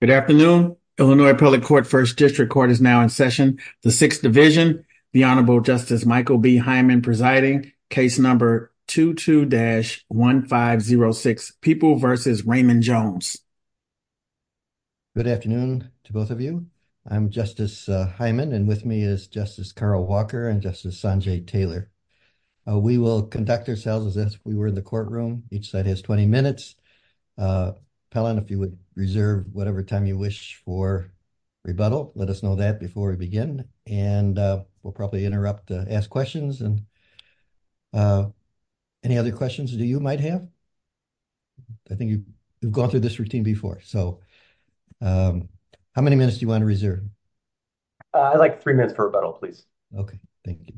Good afternoon, Illinois public court. First district court is now in session. The 6th division, the Honorable Justice Michael B. Hyman presiding case number 22-1506 people versus Raymond Jones. Good afternoon to both of you. I'm Justice Hyman and with me is Justice Carl Walker and Justice Sanjay Taylor. We will conduct ourselves as if we were in the courtroom. Each side has 20 minutes. Pellon, if you would reserve whatever time you wish for rebuttal, let us know that before we begin. And we'll probably interrupt to ask questions and any other questions that you might have. I think you've gone through this routine before. So how many minutes do you want to reserve? I'd like three minutes for rebuttal, please. Okay, thank you.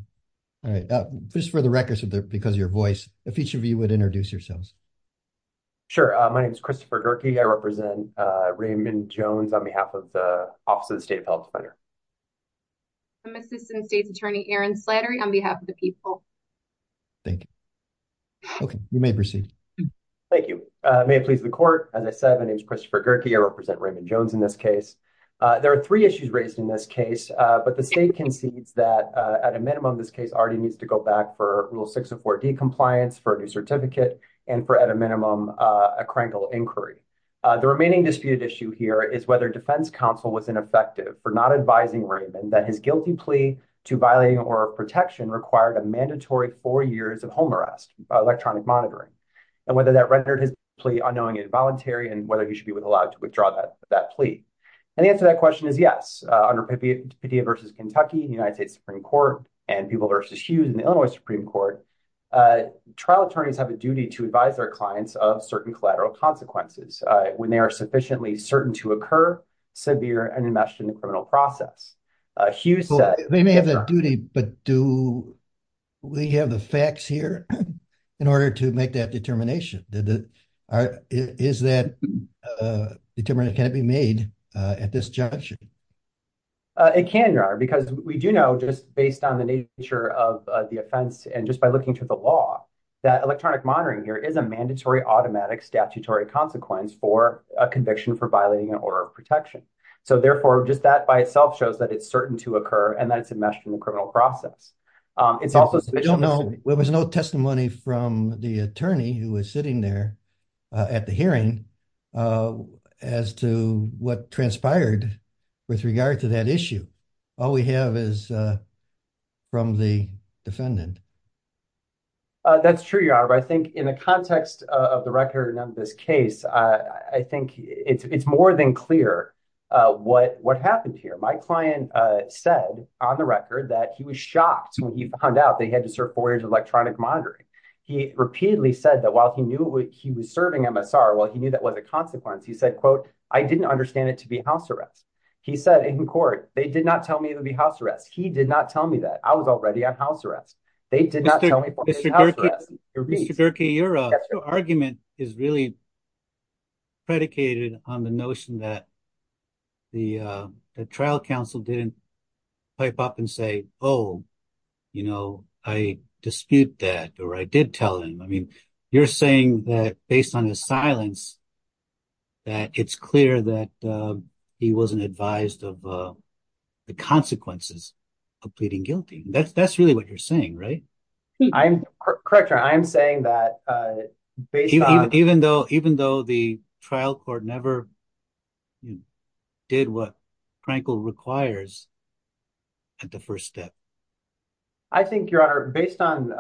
All right. Just for the record, because of your voice, if each of you would introduce yourselves. Sure. My name is Christopher Gerke. I represent Raymond Jones on behalf of the Office of the State of Health Center. I'm Assistant State's Attorney Erin Slattery on behalf of the people. Thank you. Okay, you may proceed. Thank you. May it please the court. As I said, my name is Christopher Gerke. I represent Raymond in this case. There are three issues raised in this case. But the state concedes that at a minimum, this case already needs to go back for Rule 604D compliance for a new certificate and for at a minimum, a crankle inquiry. The remaining disputed issue here is whether defense counsel was ineffective for not advising Raymond that his guilty plea to violating oral protection required a mandatory four years of home arrest by electronic monitoring, and whether that rendered his plea unknowingly involuntary and whether he should be allowed to withdraw that plea. And the answer to that question is yes. Under Padilla v. Kentucky, the United States Supreme Court, and Peeble v. Hughes in the Illinois Supreme Court, trial attorneys have a duty to advise their clients of certain collateral consequences when they are sufficiently certain to occur, severe, and enmeshed in the criminal process. Hughes said- They may have that duty, but do we have the facts here in order to make that determination? Is that determination, can it be made at this juncture? It can, Your Honor, because we do know, just based on the nature of the offense and just by looking to the law, that electronic monitoring here is a mandatory automatic statutory consequence for a conviction for violating an order of protection. So therefore, just that by itself shows that it's certain to occur and that it's enmeshed in the criminal process. It's also- There was no testimony from the attorney who was sitting there at the hearing as to what transpired with regard to that issue. All we have is from the defendant. That's true, Your Honor, but I think in the context of the record in this case, I think it's more than clear what happened here. My client said on the record that he was shocked when he found out that he had to serve four years of electronic monitoring. He repeatedly said that while he knew he was serving MSR, while he knew that was a consequence, he said, quote, I didn't understand it to be house arrest. He said in court, they did not tell me it would be house arrest. He did not tell me that. I was already on house arrest. They did not tell me- Mr. Gerkey, your argument is really predicated on the notion that the trial counsel didn't pipe up and say, oh, I dispute that or I did tell him. You're saying that based on his silence, that it's clear that he wasn't advised of the consequences of pleading guilty. That's really what you're saying, right? Correct, Your Honor. I'm saying that- Even though the trial court never did what Frankel requires at the first step. I think, Your Honor, based on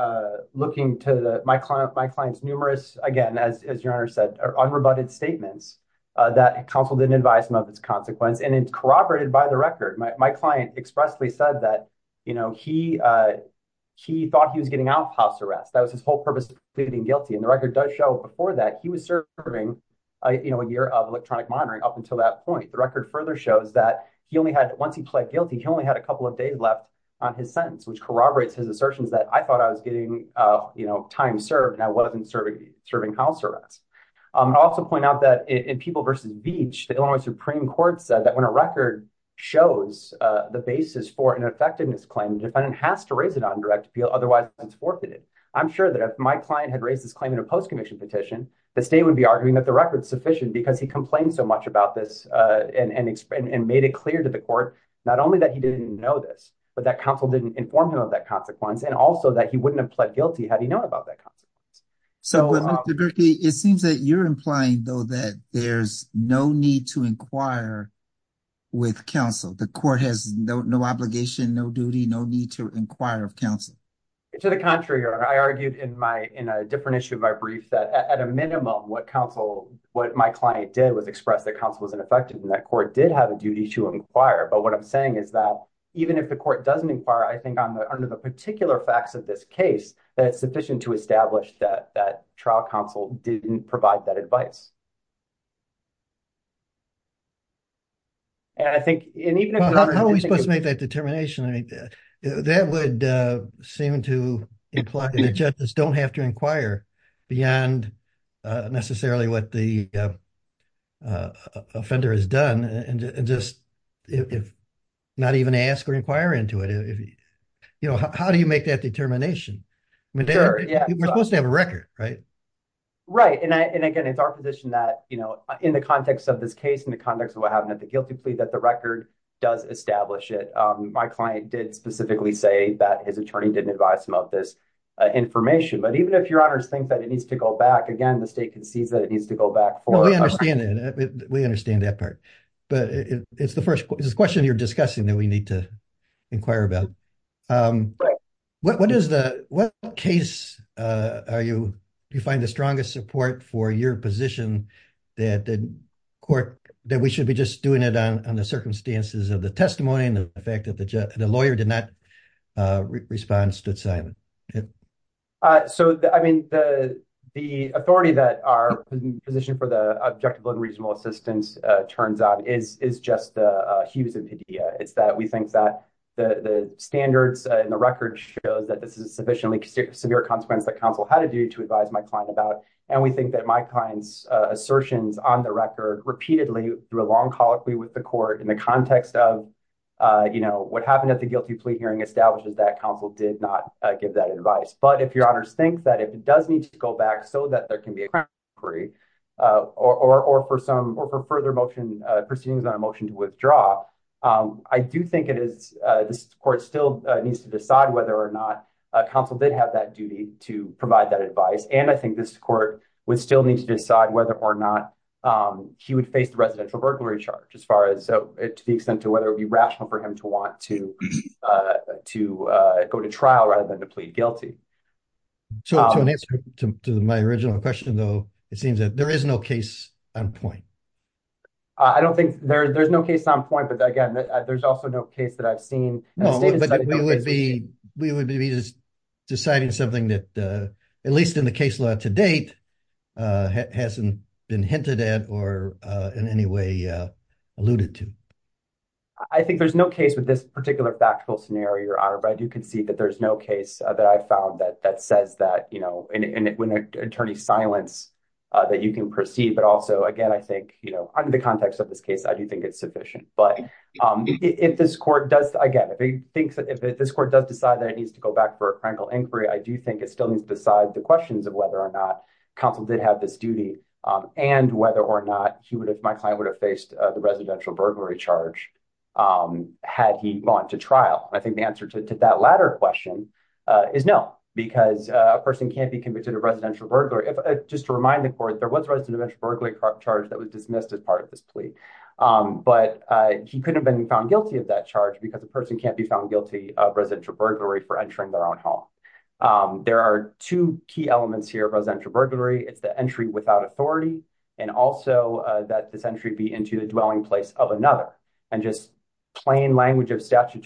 looking to my client's numerous, again, as Your Honor said, unrebutted statements that counsel didn't advise him of its consequence, and it's corroborated by the record. My client expressly said that he thought he was getting out of house arrest. That was his whole purpose of pleading guilty. The record does show before that he was serving a year of electronic monitoring up until that point. The record further shows that once he pled guilty, he only had a couple of days left on his sentence, which corroborates his assertions that I thought I was getting time served and I wasn't serving house arrest. I'll also point out that in People v. Veatch, the Illinois Supreme Court said that when a record shows the basis for an effectiveness claim, the defendant has to raise it on direct appeal, otherwise it's forfeited. I'm sure that if my client had raised this claim in a post-conviction petition, the state would be arguing that the record is sufficient because he complained so much about this and made it clear to the court not only that he didn't know this, but that counsel didn't inform him of that consequence, and also that he wouldn't have pled guilty had he known about that consequence. But, Dr. Durkee, it seems that you're implying, though, that there's no need to inquire with counsel. The court has no obligation, no duty, no need to inquire of counsel. To the contrary, Your Honor. I argued in a different issue of my brief that, at a minimum, what my client did was express that counsel was ineffective and that court did have a duty to inquire. But what I'm saying is that even if the court doesn't inquire, I think under the particular facts of this case, that it's sufficient to establish that trial counsel didn't provide that advice. How are we supposed to make that determination? That would seem to imply that judges don't have to inquire beyond necessarily what the offender has done and just not even ask or inquire into it. How do you make that determination? You're supposed to have a record, right? Right. And, again, it's our position that, you know, in the context of this case, in the context of what happened at the guilty plea, that the record does establish it. My client did specifically say that his attorney didn't advise him of this information. But even if Your Honors think that it needs to go back, again, the state concedes that it needs to go back for it. We understand that part. But it's the question you're discussing that we need to inquire about. What case are you, do you find the strongest support for your position that the court, that we should be just doing it on the circumstances of the testimony and the fact that the lawyer did not respond, stood silent? So, I mean, the authority that our position for the objective and reasonable assistance turns out is just a huge idea. It's that we think that the standards in the record shows that this is a sufficiently severe consequence that counsel had a duty to advise my client about. And we think that my client's assertions on the record repeatedly through a long colloquy with the court in the context of, you know, what happened at the guilty plea hearing establishes that counsel did not give that advice. But if Your Honors think that it does need to go back so that there can be a crack free or for some or for further motion, proceedings on a motion to withdraw, I do think it is, this court still needs to decide whether or not counsel did have that duty to provide that advice. And I think this court would still need to decide whether or not he would face the residential burglary charge as far as to the extent to whether it would be rational for him to want to go to trial rather than to plead guilty. So, to answer to my original question, though, it seems that there is no case on point. I don't think there's no case on point, but again, there's also no case that I've seen. No, but we would be deciding something that, at least in the case law to date, hasn't been hinted at or in any way alluded to. I think there's no case with this particular factual scenario, Your Honor, but I do concede that there's no case that I've found that says that, you know, in an attorney's silence that you can perceive. But also, again, I think, you know, under the context of this case, I do think it's sufficient. But if this court does, again, if this court does decide that it needs to go back for a critical inquiry, I do think it still needs to decide the questions of whether or not counsel did have this duty and whether or not he would, if my client, would have faced the residential burglary charge had he gone to trial. I think the answer to that latter question is no, because a person can't be convicted of residential burglary. Just to remind the court, there was a residential burglary charge that was dismissed as part of this plea, but he couldn't have been found guilty of that charge because a person can't be found guilty of residential burglary for entering their own home. There are two key elements here of residential burglary. It's the entry without authority and also that this entry be into the dwelling place of another. And just plain language of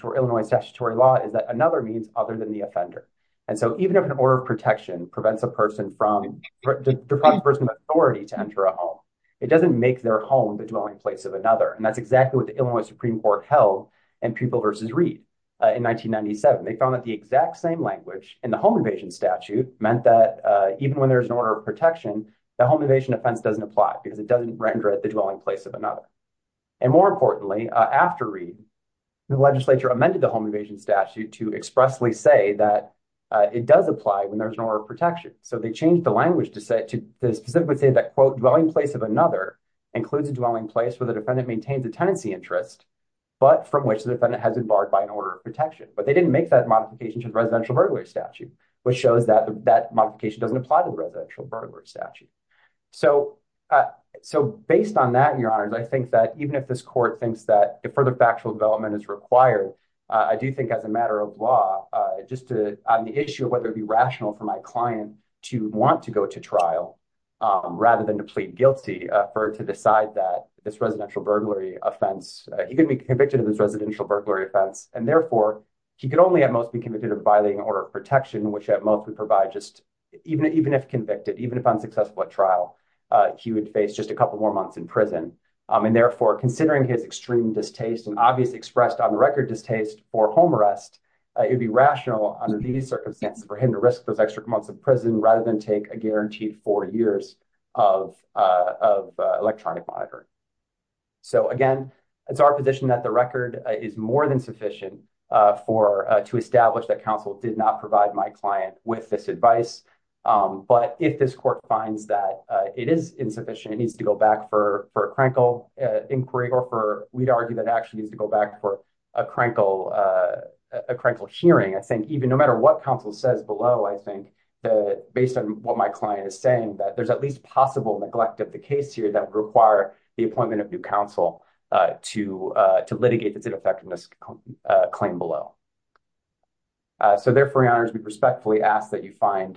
Illinois statutory law is that other means other than the offender. And so even if an order of protection prevents a person from, deprives a person of authority to enter a home, it doesn't make their home the dwelling place of another. And that's exactly what the Illinois Supreme Court held in People v. Reed in 1997. They found that the exact same language in the home invasion statute meant that even when there's an order of protection, the home invasion offense doesn't apply because it doesn't render it the dwelling place of another. And more importantly, after Reed, the legislature amended the home invasion statute to expressly say that it does apply when there's an order of protection. So they changed the language to specifically say that, quote, dwelling place of another includes a dwelling place where the defendant maintains a tenancy interest, but from which the defendant has been barred by an order of protection. But they didn't make that modification to the residential burglary statute, which shows that that modification doesn't apply to the residential burglary statute. So based on that, Your Honors, I think that even if this court thinks that further factual development is required, I do think as a matter of law, just on the issue of whether it'd be rational for my client to want to go to trial rather than to plead guilty to decide that this residential burglary offense, he could be convicted of this residential burglary offense. And therefore, he could only at most be convicted of violating order of protection, which at most would provide just, even if convicted, even if unsuccessful at trial, he would face just a couple more months in prison. And therefore, considering his extreme distaste and obvious expressed on the record distaste for home arrest, it'd be rational under these circumstances for him to risk those extra months in prison rather than take a guaranteed four years of electronic monitoring. So again, it's our position that the record is more than sufficient to establish that counsel did not provide my client with this advice. But if this court finds that it is insufficient, it needs to go back for a crankle inquiry, or we'd argue that it actually needs to go back for a crankle hearing. I think even no matter what counsel says below, I think, based on what my client is saying, that there's at least possible neglect of the case here that would require the appointment of new counsel to litigate this ineffectiveness claim below. So therefore, Your Honors, we respectfully ask that you find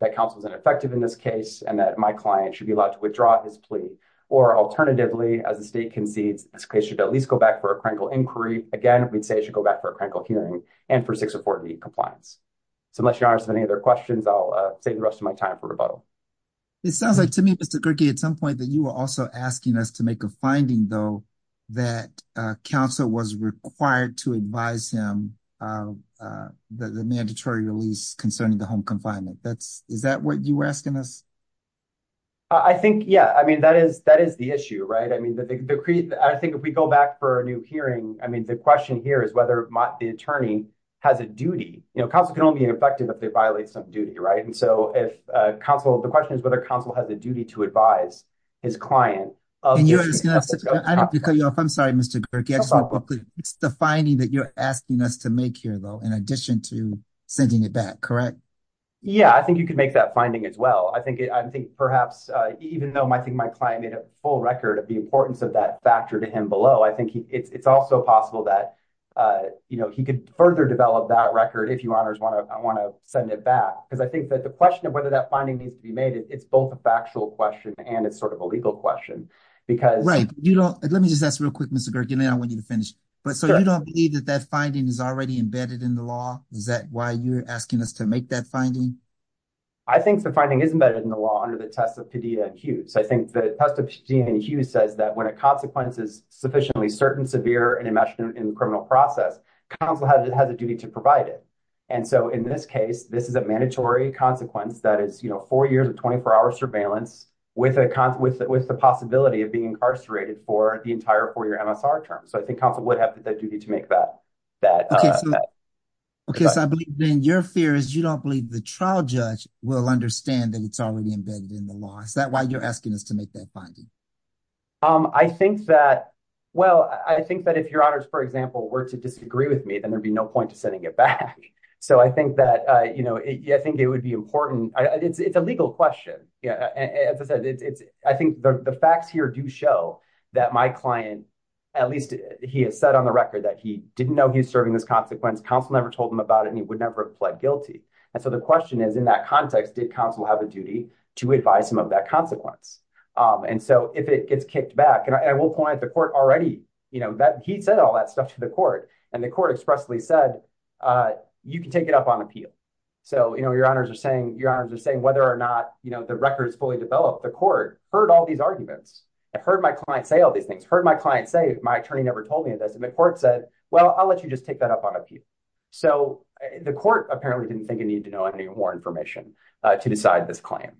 that counsel is ineffective in this case and that my client should be allowed to withdraw his plea. Or alternatively, as the state concedes, this case should at least go back for a crankle inquiry. Again, we'd say it should go back for a crankle hearing and for 604B compliance. So unless Your Honors have any other questions, I'll save the rest of my time for rebuttal. It sounds like to me, Mr. Gerke, at some point that you were also asking us to make a finding, though, that counsel was required to advise him the mandatory release concerning the home confinement. Is that what you were asking us? I think, yeah. I mean, that is the issue, right? I mean, I think if we go back for a new hearing, I mean, the question here is whether the attorney has a duty. You know, counsel can only be ineffective if they violate some duty, right? And so if counsel, the question is whether counsel has a duty to advise his client. I'm sorry, Mr. Gerke. It's the finding that you're asking us to make here, though, in addition to sending it back, correct? Yeah, I think you could make that finding as well. I think perhaps even though I think my client made a full record of the importance of that factor to him below, I think it's also possible that he could further develop that record if Your Honors want to send it back. Because I think that the question of whether that finding needs to be made, it's both a factual question and it's sort of a legal question. Right. Let me just ask real quick, Mr. Gerke, and then I want you to finish. So you don't believe that that finding is already embedded in the law? Is that why you're asking us to make that finding? I think the finding is embedded in the law under the test of Padilla and Hughes. I think the test of Padilla and Hughes says that when a consequence is sufficiently certain, severe, and enmeshed in the criminal process, counsel has a duty to provide it. And so in this case, this is a mandatory consequence that is, you know, four years of 24-hour surveillance with the possibility of being incarcerated for the entire four-year MSR term. So I think counsel would have that duty to make that. Okay. So I believe, Ben, your fear is you don't believe the trial judge will understand that it's already embedded in the law. Is that why you're asking us to make that finding? I think that, well, I think that if Your Honors, for example, were to disagree with me, then there'd be no point to sending it back. So I think that, you know, I think it would be important. It's a legal question. As I said, I think the facts here do show that my client at least he has said on the record that he didn't know he was serving this consequence. Counsel never told him about it, and he would never have pled guilty. And so the question is, in that context, did counsel have a duty to advise him of that consequence? And so if it gets kicked back, and I will point the court already, you know, that he said all that stuff to the court, and the court expressly said, you can take it up on appeal. So, you know, Your Honors are saying, Your Honors are saying whether or not, you know, the record is fully developed, the court heard all these arguments. I've heard my client say all these things, heard my client say, my attorney never told me this, and the court said, well, I'll let you just take that up on appeal. So the court apparently didn't think it needed to know any more information to decide this claim.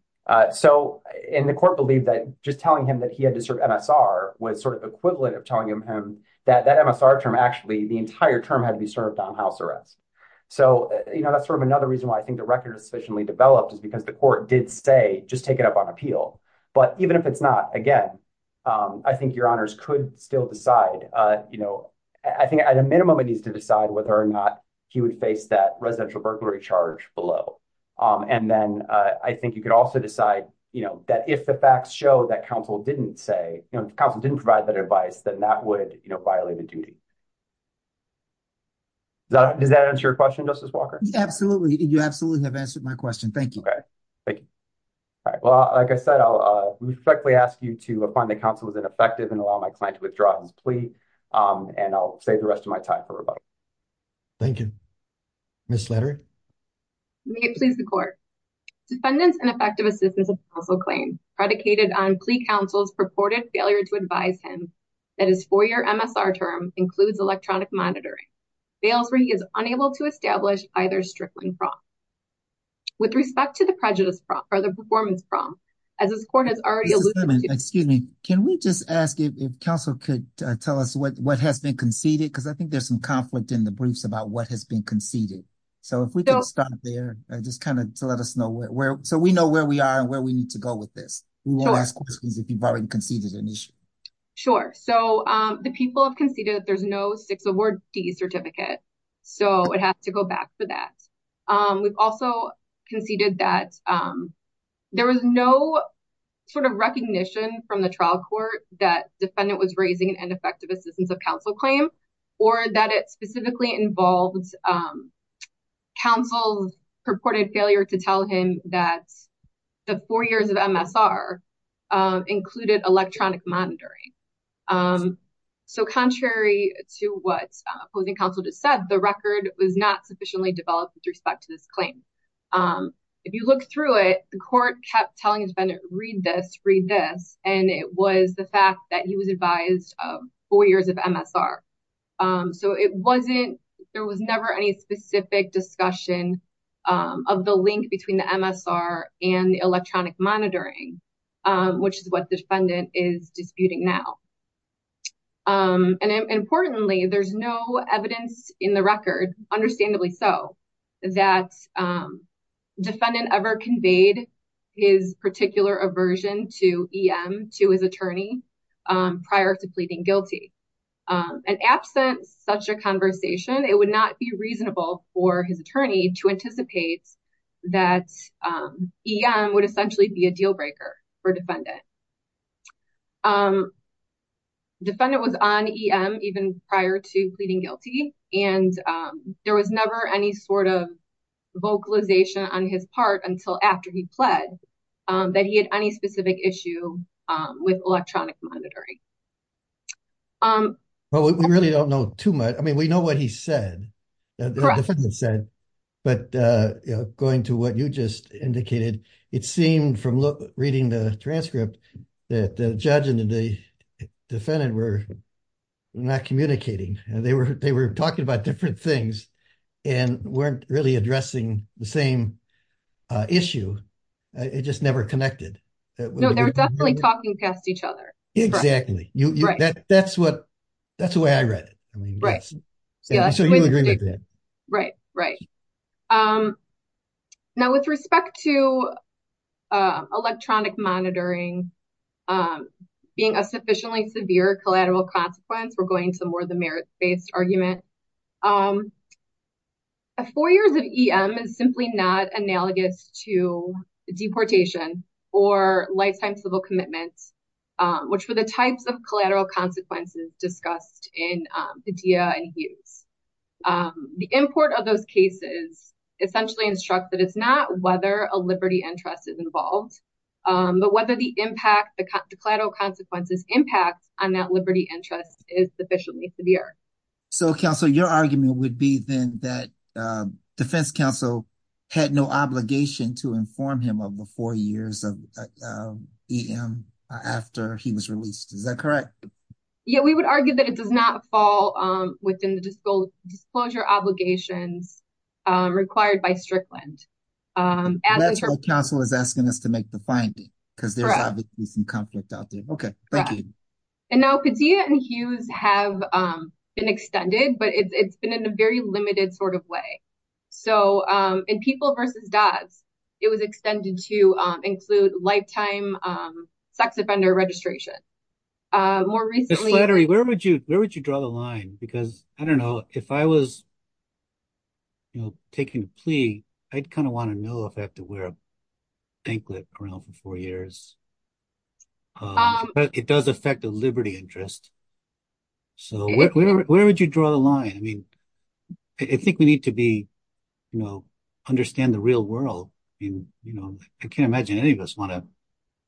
So, and the court believed that just telling him that he had to serve MSR was sort of equivalent of telling him that that MSR term actually, the entire term had to be served on house arrest. So, you know, that's sort of another reason why I think the record is sufficiently developed is the court did say, just take it up on appeal. But even if it's not, again, I think Your Honors could still decide, you know, I think at a minimum, it needs to decide whether or not he would face that residential burglary charge below. And then I think you could also decide, you know, that if the facts show that counsel didn't say, you know, counsel didn't provide that advice, then that would, you know, violate the duty. Does that answer your question, Justice Thank you. All right. Well, like I said, I'll respectfully ask you to find the counsel was ineffective and allow my client to withdraw his plea and I'll save the rest of my time for rebuttal. Thank you. Ms. Slattery. May it please the court. Defendant's ineffective assistance of counsel claim predicated on plea counsel's purported failure to advise him that his four-year MSR term includes electronic monitoring fails where he is unable to establish either Strickland fraud. With respect to the prejudice prompt or the performance prompt, as this court has already Excuse me. Can we just ask if counsel could tell us what what has been conceded? Because I think there's some conflict in the briefs about what has been conceded. So if we don't stop there, just kind of let us know where so we know where we are and where we need to go with this. If you've already conceded an issue. Sure. So the people have conceded that there's no certificate. So it has to go back for that. We've also conceded that there was no sort of recognition from the trial court that defendant was raising an ineffective assistance of counsel claim or that it specifically involves counsel's purported failure to tell him that the four years MSR included electronic monitoring. So contrary to what opposing counsel just said, the record was not sufficiently developed with respect to this claim. If you look through it, the court kept telling defendant read this, read this. And it was the fact that he was advised four years of MSR. So it wasn't there was never any specific discussion of the link between the MSR and the monitoring, which is what the defendant is disputing now. And importantly, there's no evidence in the record, understandably so, that defendant ever conveyed his particular aversion to EM to his attorney prior to pleading guilty. And absent such a conversation, it would not be for defendant. Defendant was on EM even prior to pleading guilty. And there was never any sort of vocalization on his part until after he pled that he had any specific issue with electronic monitoring. Well, we really don't know too much. I mean, we know what he said, the defendant said, but going to what you just indicated, it seemed from reading the transcript, that the judge and the defendant were not communicating. They were talking about different things and weren't really addressing the same issue. It just never connected. No, they were definitely talking past each other. Exactly. That's the way I read it. So you agree with that? Right, right. Now, with respect to electronic monitoring being a sufficiently severe collateral consequence, we're going to more of the merit-based argument. Four years of EM is simply not analogous to deportation or lifetime civil commitments, which were the types of collateral consequences discussed in Padilla and Hughes. The import of those cases essentially instructs that it's not whether a liberty interest is involved, but whether the impact, the collateral consequences impact on that liberty interest is sufficiently severe. So counsel, your argument would be then that counsel had no obligation to inform him of the four years of EM after he was released. Is that correct? Yeah, we would argue that it does not fall within the disclosure obligations required by Strickland. That's why counsel is asking us to make the finding, because there's obviously some conflict out there. Okay, thank you. And now Padilla and Hughes have been extended, but it's been in a very limited sort of way. So in People v. Dodds, it was extended to include lifetime sex offender registration. More recently... Ms. Slattery, where would you draw the line? Because I don't know, if I was taking a plea, I'd kind of want to know if I have to wear a anklet around for four years. But it does affect the liberty interest. So where would you draw the line? I mean, I think we need to understand the real world. I can't imagine any of us want to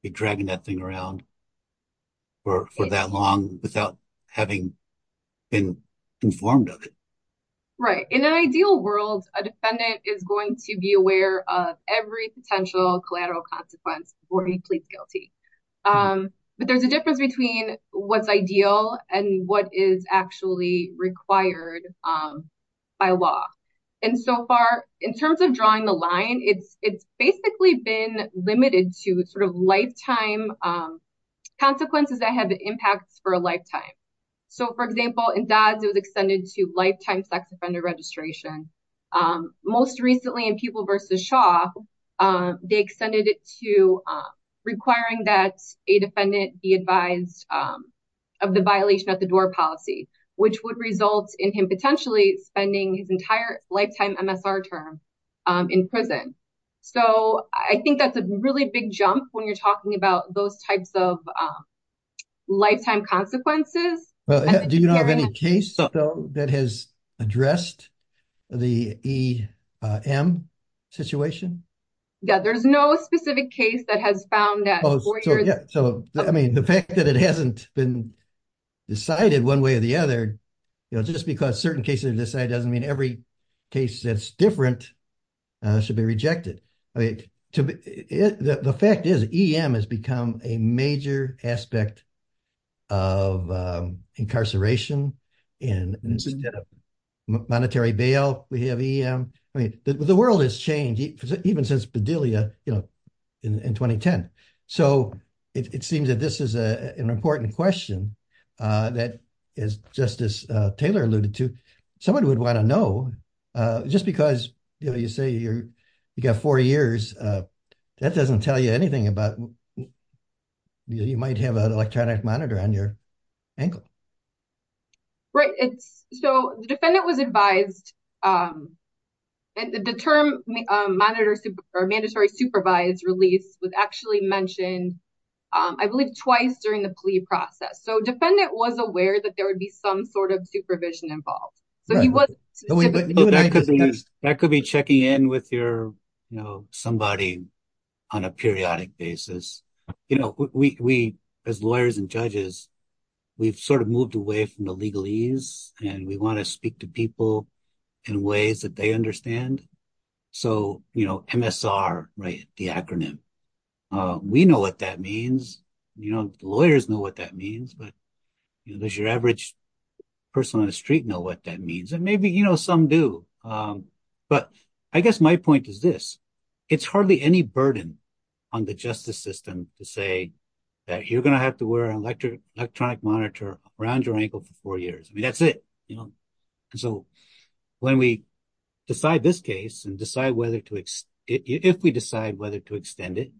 be dragging that thing around for that long without having been informed of it. Right. In an ideal world, a defendant is going to be aware of every potential collateral consequence before he pleads guilty. But there's a difference between what's ideal and what is actually required by law. And so far, in terms of drawing the line, it's basically been limited to sort of lifetime consequences that have impacts for a lifetime. So, for example, in Dodds, it was extended to lifetime sex offender registration. Most recently in People v. Shaw, they extended it to requiring that a defendant be advised of the violation at the door policy, which would result in him potentially spending his entire lifetime MSR term in prison. So I think that's a really big jump when you're talking about those types of lifetime consequences. Do you have any case that has addressed the EM situation? Yeah, there's no specific case that has found that. So, I mean, the fact that it hasn't been decided one way or the other, you know, just because certain cases are decided doesn't mean every case that's different should be rejected. I mean, the fact is EM has become a major aspect of incarceration and monetary bail. We have EM, I mean, the world has changed even since Bedelia, you know, in 2010. So it seems that this is an important question that, as Justice Taylor alluded to, someone would want to know, just because, you know, you say you got four years, that doesn't tell you anything about you might have an electronic monitor on your ankle. Right. So the defendant was advised, and the term mandatory supervised release was actually mentioned, I believe, twice during the plea process. So defendant was aware that there would be some sort of supervision involved. That could be checking in with your, you know, away from the legalese, and we want to speak to people in ways that they understand. So, you know, MSR, right, the acronym, we know what that means. You know, lawyers know what that means. But does your average person on the street know what that means? And maybe, you know, some do. But I guess my point is this. It's hardly any burden on the justice system to say that you're going to have to wear an electronic monitor around your ankle for four years. I mean, that's it, you know. So when we decide this case and decide whether to, if we decide whether to extend it,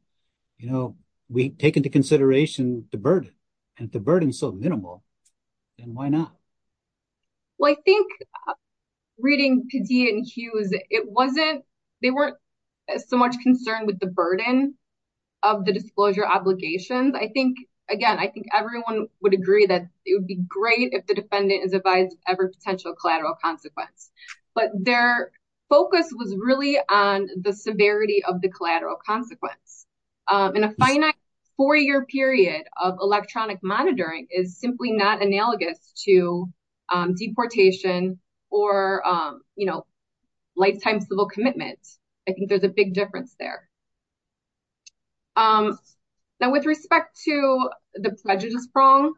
you know, we take into consideration the burden. And if the burden is so minimal, then why not? Well, I think reading Padilla and Hughes, it wasn't, they weren't so much concerned with the burden of the disclosure obligations. I think, again, I think everyone would agree that it would be great if the defendant is advised of every potential collateral consequence. But their focus was really on the severity of the collateral consequence. In a finite four-year period of electronic monitoring is simply not analogous to deportation or, you know, lifetime civil commitment. I think there's a big difference there. Now, with respect to the prejudice prong,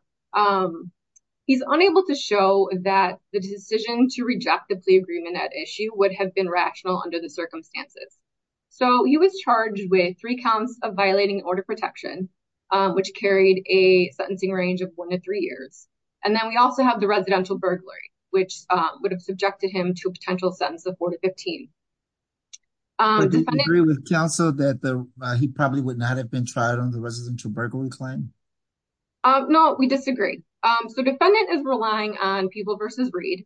he's unable to show that the decision to reject the plea agreement at issue would have been rational under the circumstances. So he was charged with three counts of violating order protection, which carried a sentencing range of one to three years. And then we also have the residential burglary, which would have subjected him to a potential sentence of four to 15. Do you agree with counsel that he probably would not have been tried on the residential burglary claim? No, we disagree. So defendant is relying on People v. Reed,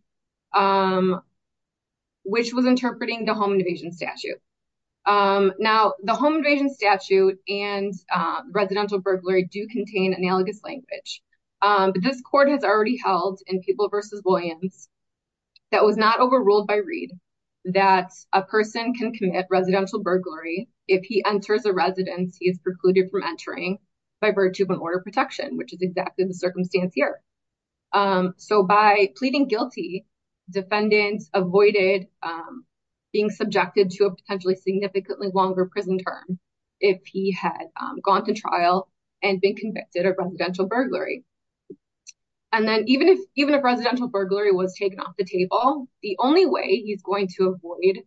which was interpreting the home invasion statute. Now, the home invasion statute and residential burglary do contain analogous language. But this court has already held in People v. Williams that was not overruled by Reed, that a person can commit residential burglary if he enters a residence he is precluded from entering by virtue of an order of protection, which is exactly the circumstance here. So by pleading guilty, defendant avoided being subjected to a potentially significantly longer prison term if he had gone to trial and been convicted of residential burglary. And then even if residential burglary was taken off the table, the only way he's going to avoid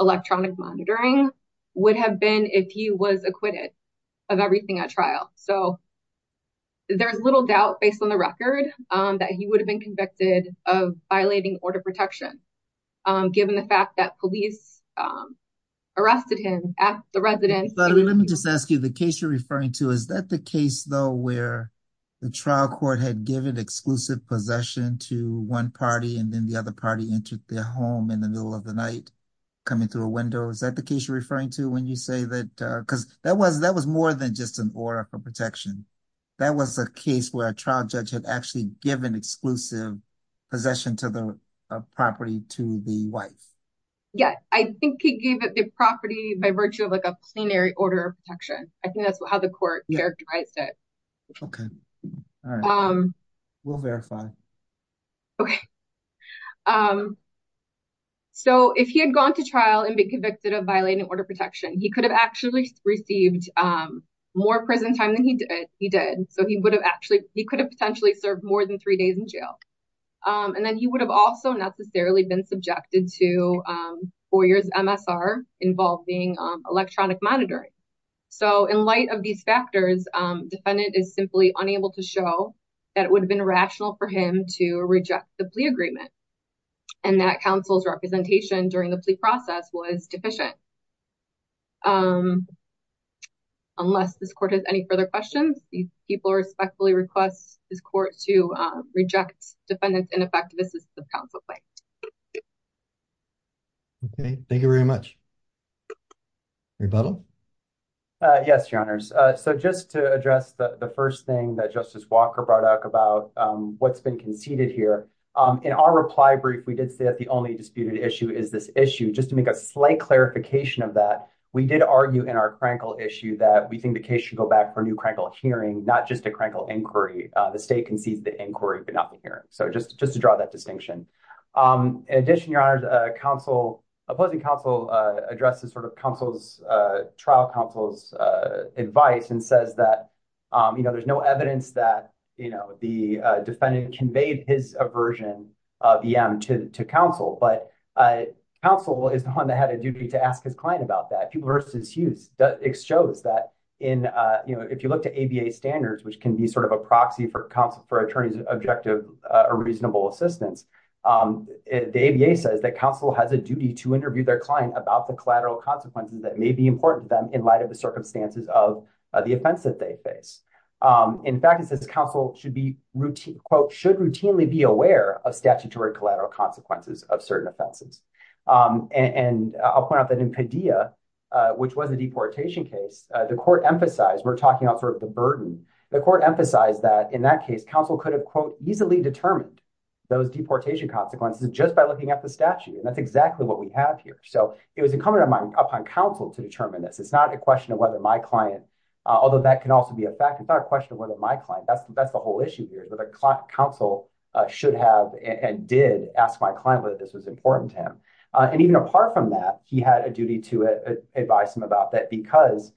electronic monitoring would have been if he was acquitted of everything at trial. So there's little doubt based on the record that he would have been convicted of violating order protection, given the fact that police arrested him at the residence. Let me just ask you the case you're referring to, is that the case though, where the trial court had given exclusive possession to one party and then the other party entered their home in the middle of the night, coming through a window? Is that the case you're referring to when you say that? Because that was that was more than just an order for protection. That was a case where a trial judge had actually given exclusive possession to the property to the wife. Yeah, I think he gave it the property by virtue of like a plenary order of protection. I think that's how the court characterized it. Okay. All right. We'll verify. Okay. So if he had gone to trial and been convicted of violating order of protection, he could have actually received more prison time than he did. So he could have potentially served more than three days in jail. And then he would have also necessarily been subjected to four years MSR involving electronic monitoring. So in light of these factors, defendant is simply unable to show that it would have been rational for him to reject the plea agreement. And that counsel's representation during the plea process was his court to reject defendants in effect. This is the council play. Okay. Thank you very much. Rebuttal. Yes, your honors. So just to address the first thing that Justice Walker brought up about what's been conceded here in our reply brief, we did say that the only disputed issue is this issue. Just to make a slight clarification of that, we did argue in our Frankel issue that we think the case should go back for new hearing, not just a crankle inquiry. The state concedes the inquiry, but not the hearing. So just to draw that distinction. In addition, your honors, opposing counsel addresses trial counsel's advice and says that there's no evidence that the defendant conveyed his aversion of EM to counsel, but counsel is the one that had a duty to ask his client about that. People versus Hughes shows that if you look to ABA standards, which can be sort of a proxy for counsel for attorney's objective or reasonable assistance, the ABA says that counsel has a duty to interview their client about the collateral consequences that may be important to them in light of the circumstances of the offense that they face. In fact, it says counsel should routinely be aware of statutory collateral consequences of certain offenses. And I'll point out that in Padilla, which was a deportation case, the court emphasized, we're talking about sort of the burden, the court emphasized that in that case, counsel could have quote, easily determined those deportation consequences just by looking at the statute. And that's exactly what we have here. So it was incumbent upon counsel to determine this. It's not a question of whether my client, although that can also be a fact, it's not a question of whether my client, that's the whole issue here is whether counsel should have and did ask my client whether this was important to him. And even apart from that, he had a duty to advise him about that because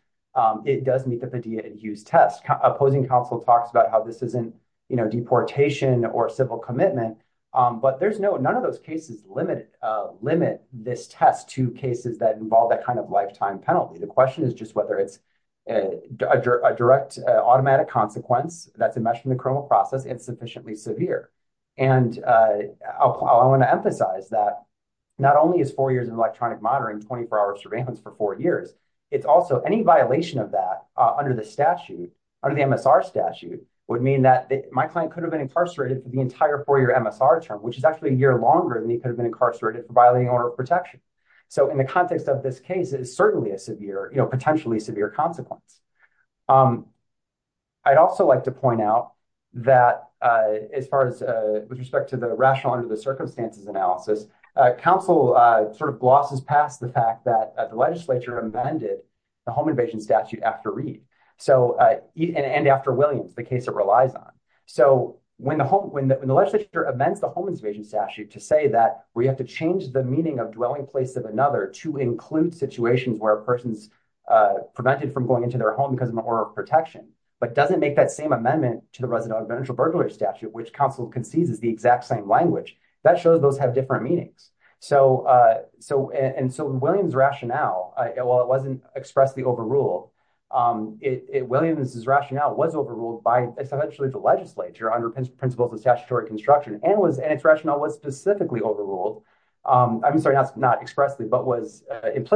it does meet the Padilla and Hughes test. Opposing counsel talks about how this isn't, you know, deportation or civil commitment, but there's no, none of those cases limit this test to cases that involve that kind of lifetime penalty. The question is just whether it's a direct automatic consequence that's insufficiently severe. And I want to emphasize that not only is four years in electronic monitoring, 24 hours of surveillance for four years, it's also any violation of that under the statute, under the MSR statute would mean that my client could have been incarcerated for the entire four year MSR term, which is actually a year longer than he could have been incarcerated for violating order of protection. So in the context of this case, it is certainly a severe, you know, that as far as with respect to the rational under the circumstances analysis, counsel sort of glosses past the fact that the legislature amended the home invasion statute after Reed. So, and after Williams, the case that relies on. So when the legislature amends the home invasion statute to say that we have to change the meaning of dwelling place of another to include situations where a person's prevented from going into their home because of the order of protection, but doesn't make that same amendment to the residential burglary statute, which counsel concedes is the exact same language that shows those have different meanings. So, and so Williams rationale, well, it wasn't expressly overruled, Williams's rationale was overruled by essentially the legislature under principles of statutory construction and its rationale was specifically overruled. I'm sorry, not expressly, but was at length.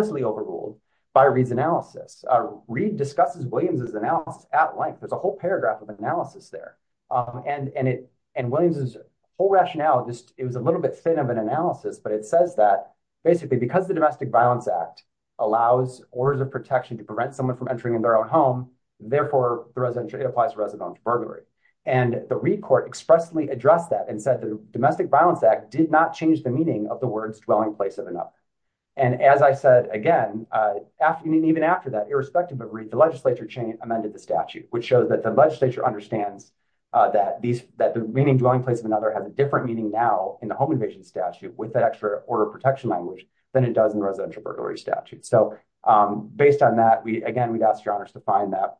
There's a whole paragraph of analysis there. And, and it, and Williams's whole rationale, just, it was a little bit thin of an analysis, but it says that basically because the domestic violence act allows orders of protection to prevent someone from entering in their own home. Therefore the residential, it applies to residential burglary. And the Reed court expressly addressed that and said that the domestic violence act did not change the meaning of the words dwelling place of another. And as I said, again, after, and even after that, irrespective of Reed, the legislature amended the statute, which shows that the legislature understands that these, that the meaning dwelling place of another has a different meaning now in the home invasion statute with that extra order of protection language than it does in the residential burglary statute. So based on that, we, again, we'd ask your honors to find that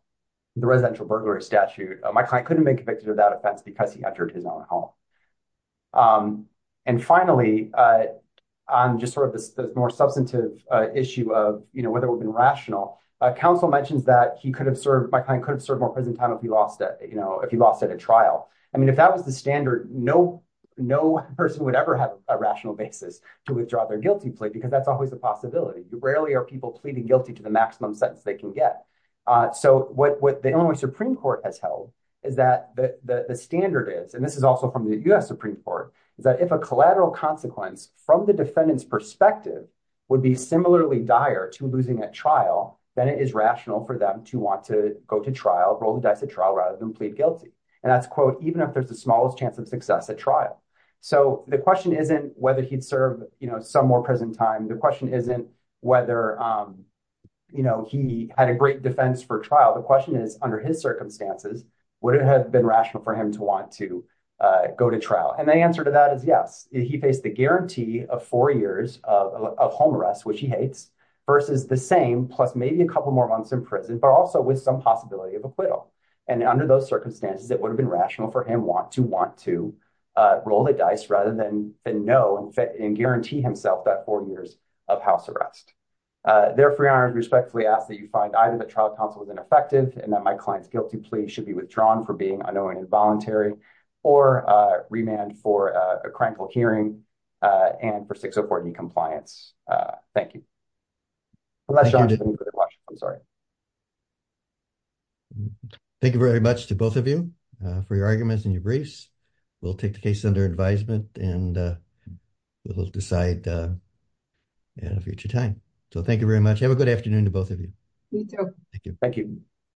the residential burglary statute, my client couldn't have been convicted of that offense because he entered his own home. And finally, on just sort of the more substantive issue of, you know, whether we've counsel mentions that he could have served, my client could have served more prison time if he lost it, you know, if he lost it at trial. I mean, if that was the standard, no, no person would ever have a rational basis to withdraw their guilty plea because that's always a possibility. You rarely are people pleading guilty to the maximum sentence they can get. So what, what the only Supreme court has held is that the standard is, and this is also from the U S Supreme court, is that if a collateral consequence from the defendant's perspective would be similarly dire to losing a trial, then it is rational for them to want to go to trial, roll the dice at trial rather than plead guilty. And that's quote, even if there's the smallest chance of success at trial. So the question isn't whether he'd serve, you know, some more present time. The question isn't whether, you know, he had a great defense for trial. The question is under his circumstances, would it have been rational for him to want to go to trial? And the answer to that is yes. He faced the guarantee of four years of home arrest, which he hates versus the same plus maybe a couple more months in prison, but also with some possibility of acquittal. And under those circumstances, it would have been rational for him want to want to roll the dice rather than know and fit and guarantee himself that four years of house arrest. Therefore, I respectfully ask that you find either the trial counsel was ineffective and that my client's guilty plea should be withdrawn for being unknowingly involuntary or remand for a crimeful hearing and for 604D compliance. Thank you. Thank you very much to both of you for your arguments and your briefs. We'll take the case under advisement and we'll decide in a future time. So thank you very much. Have a good afternoon to both of you. Thank you. Thank you.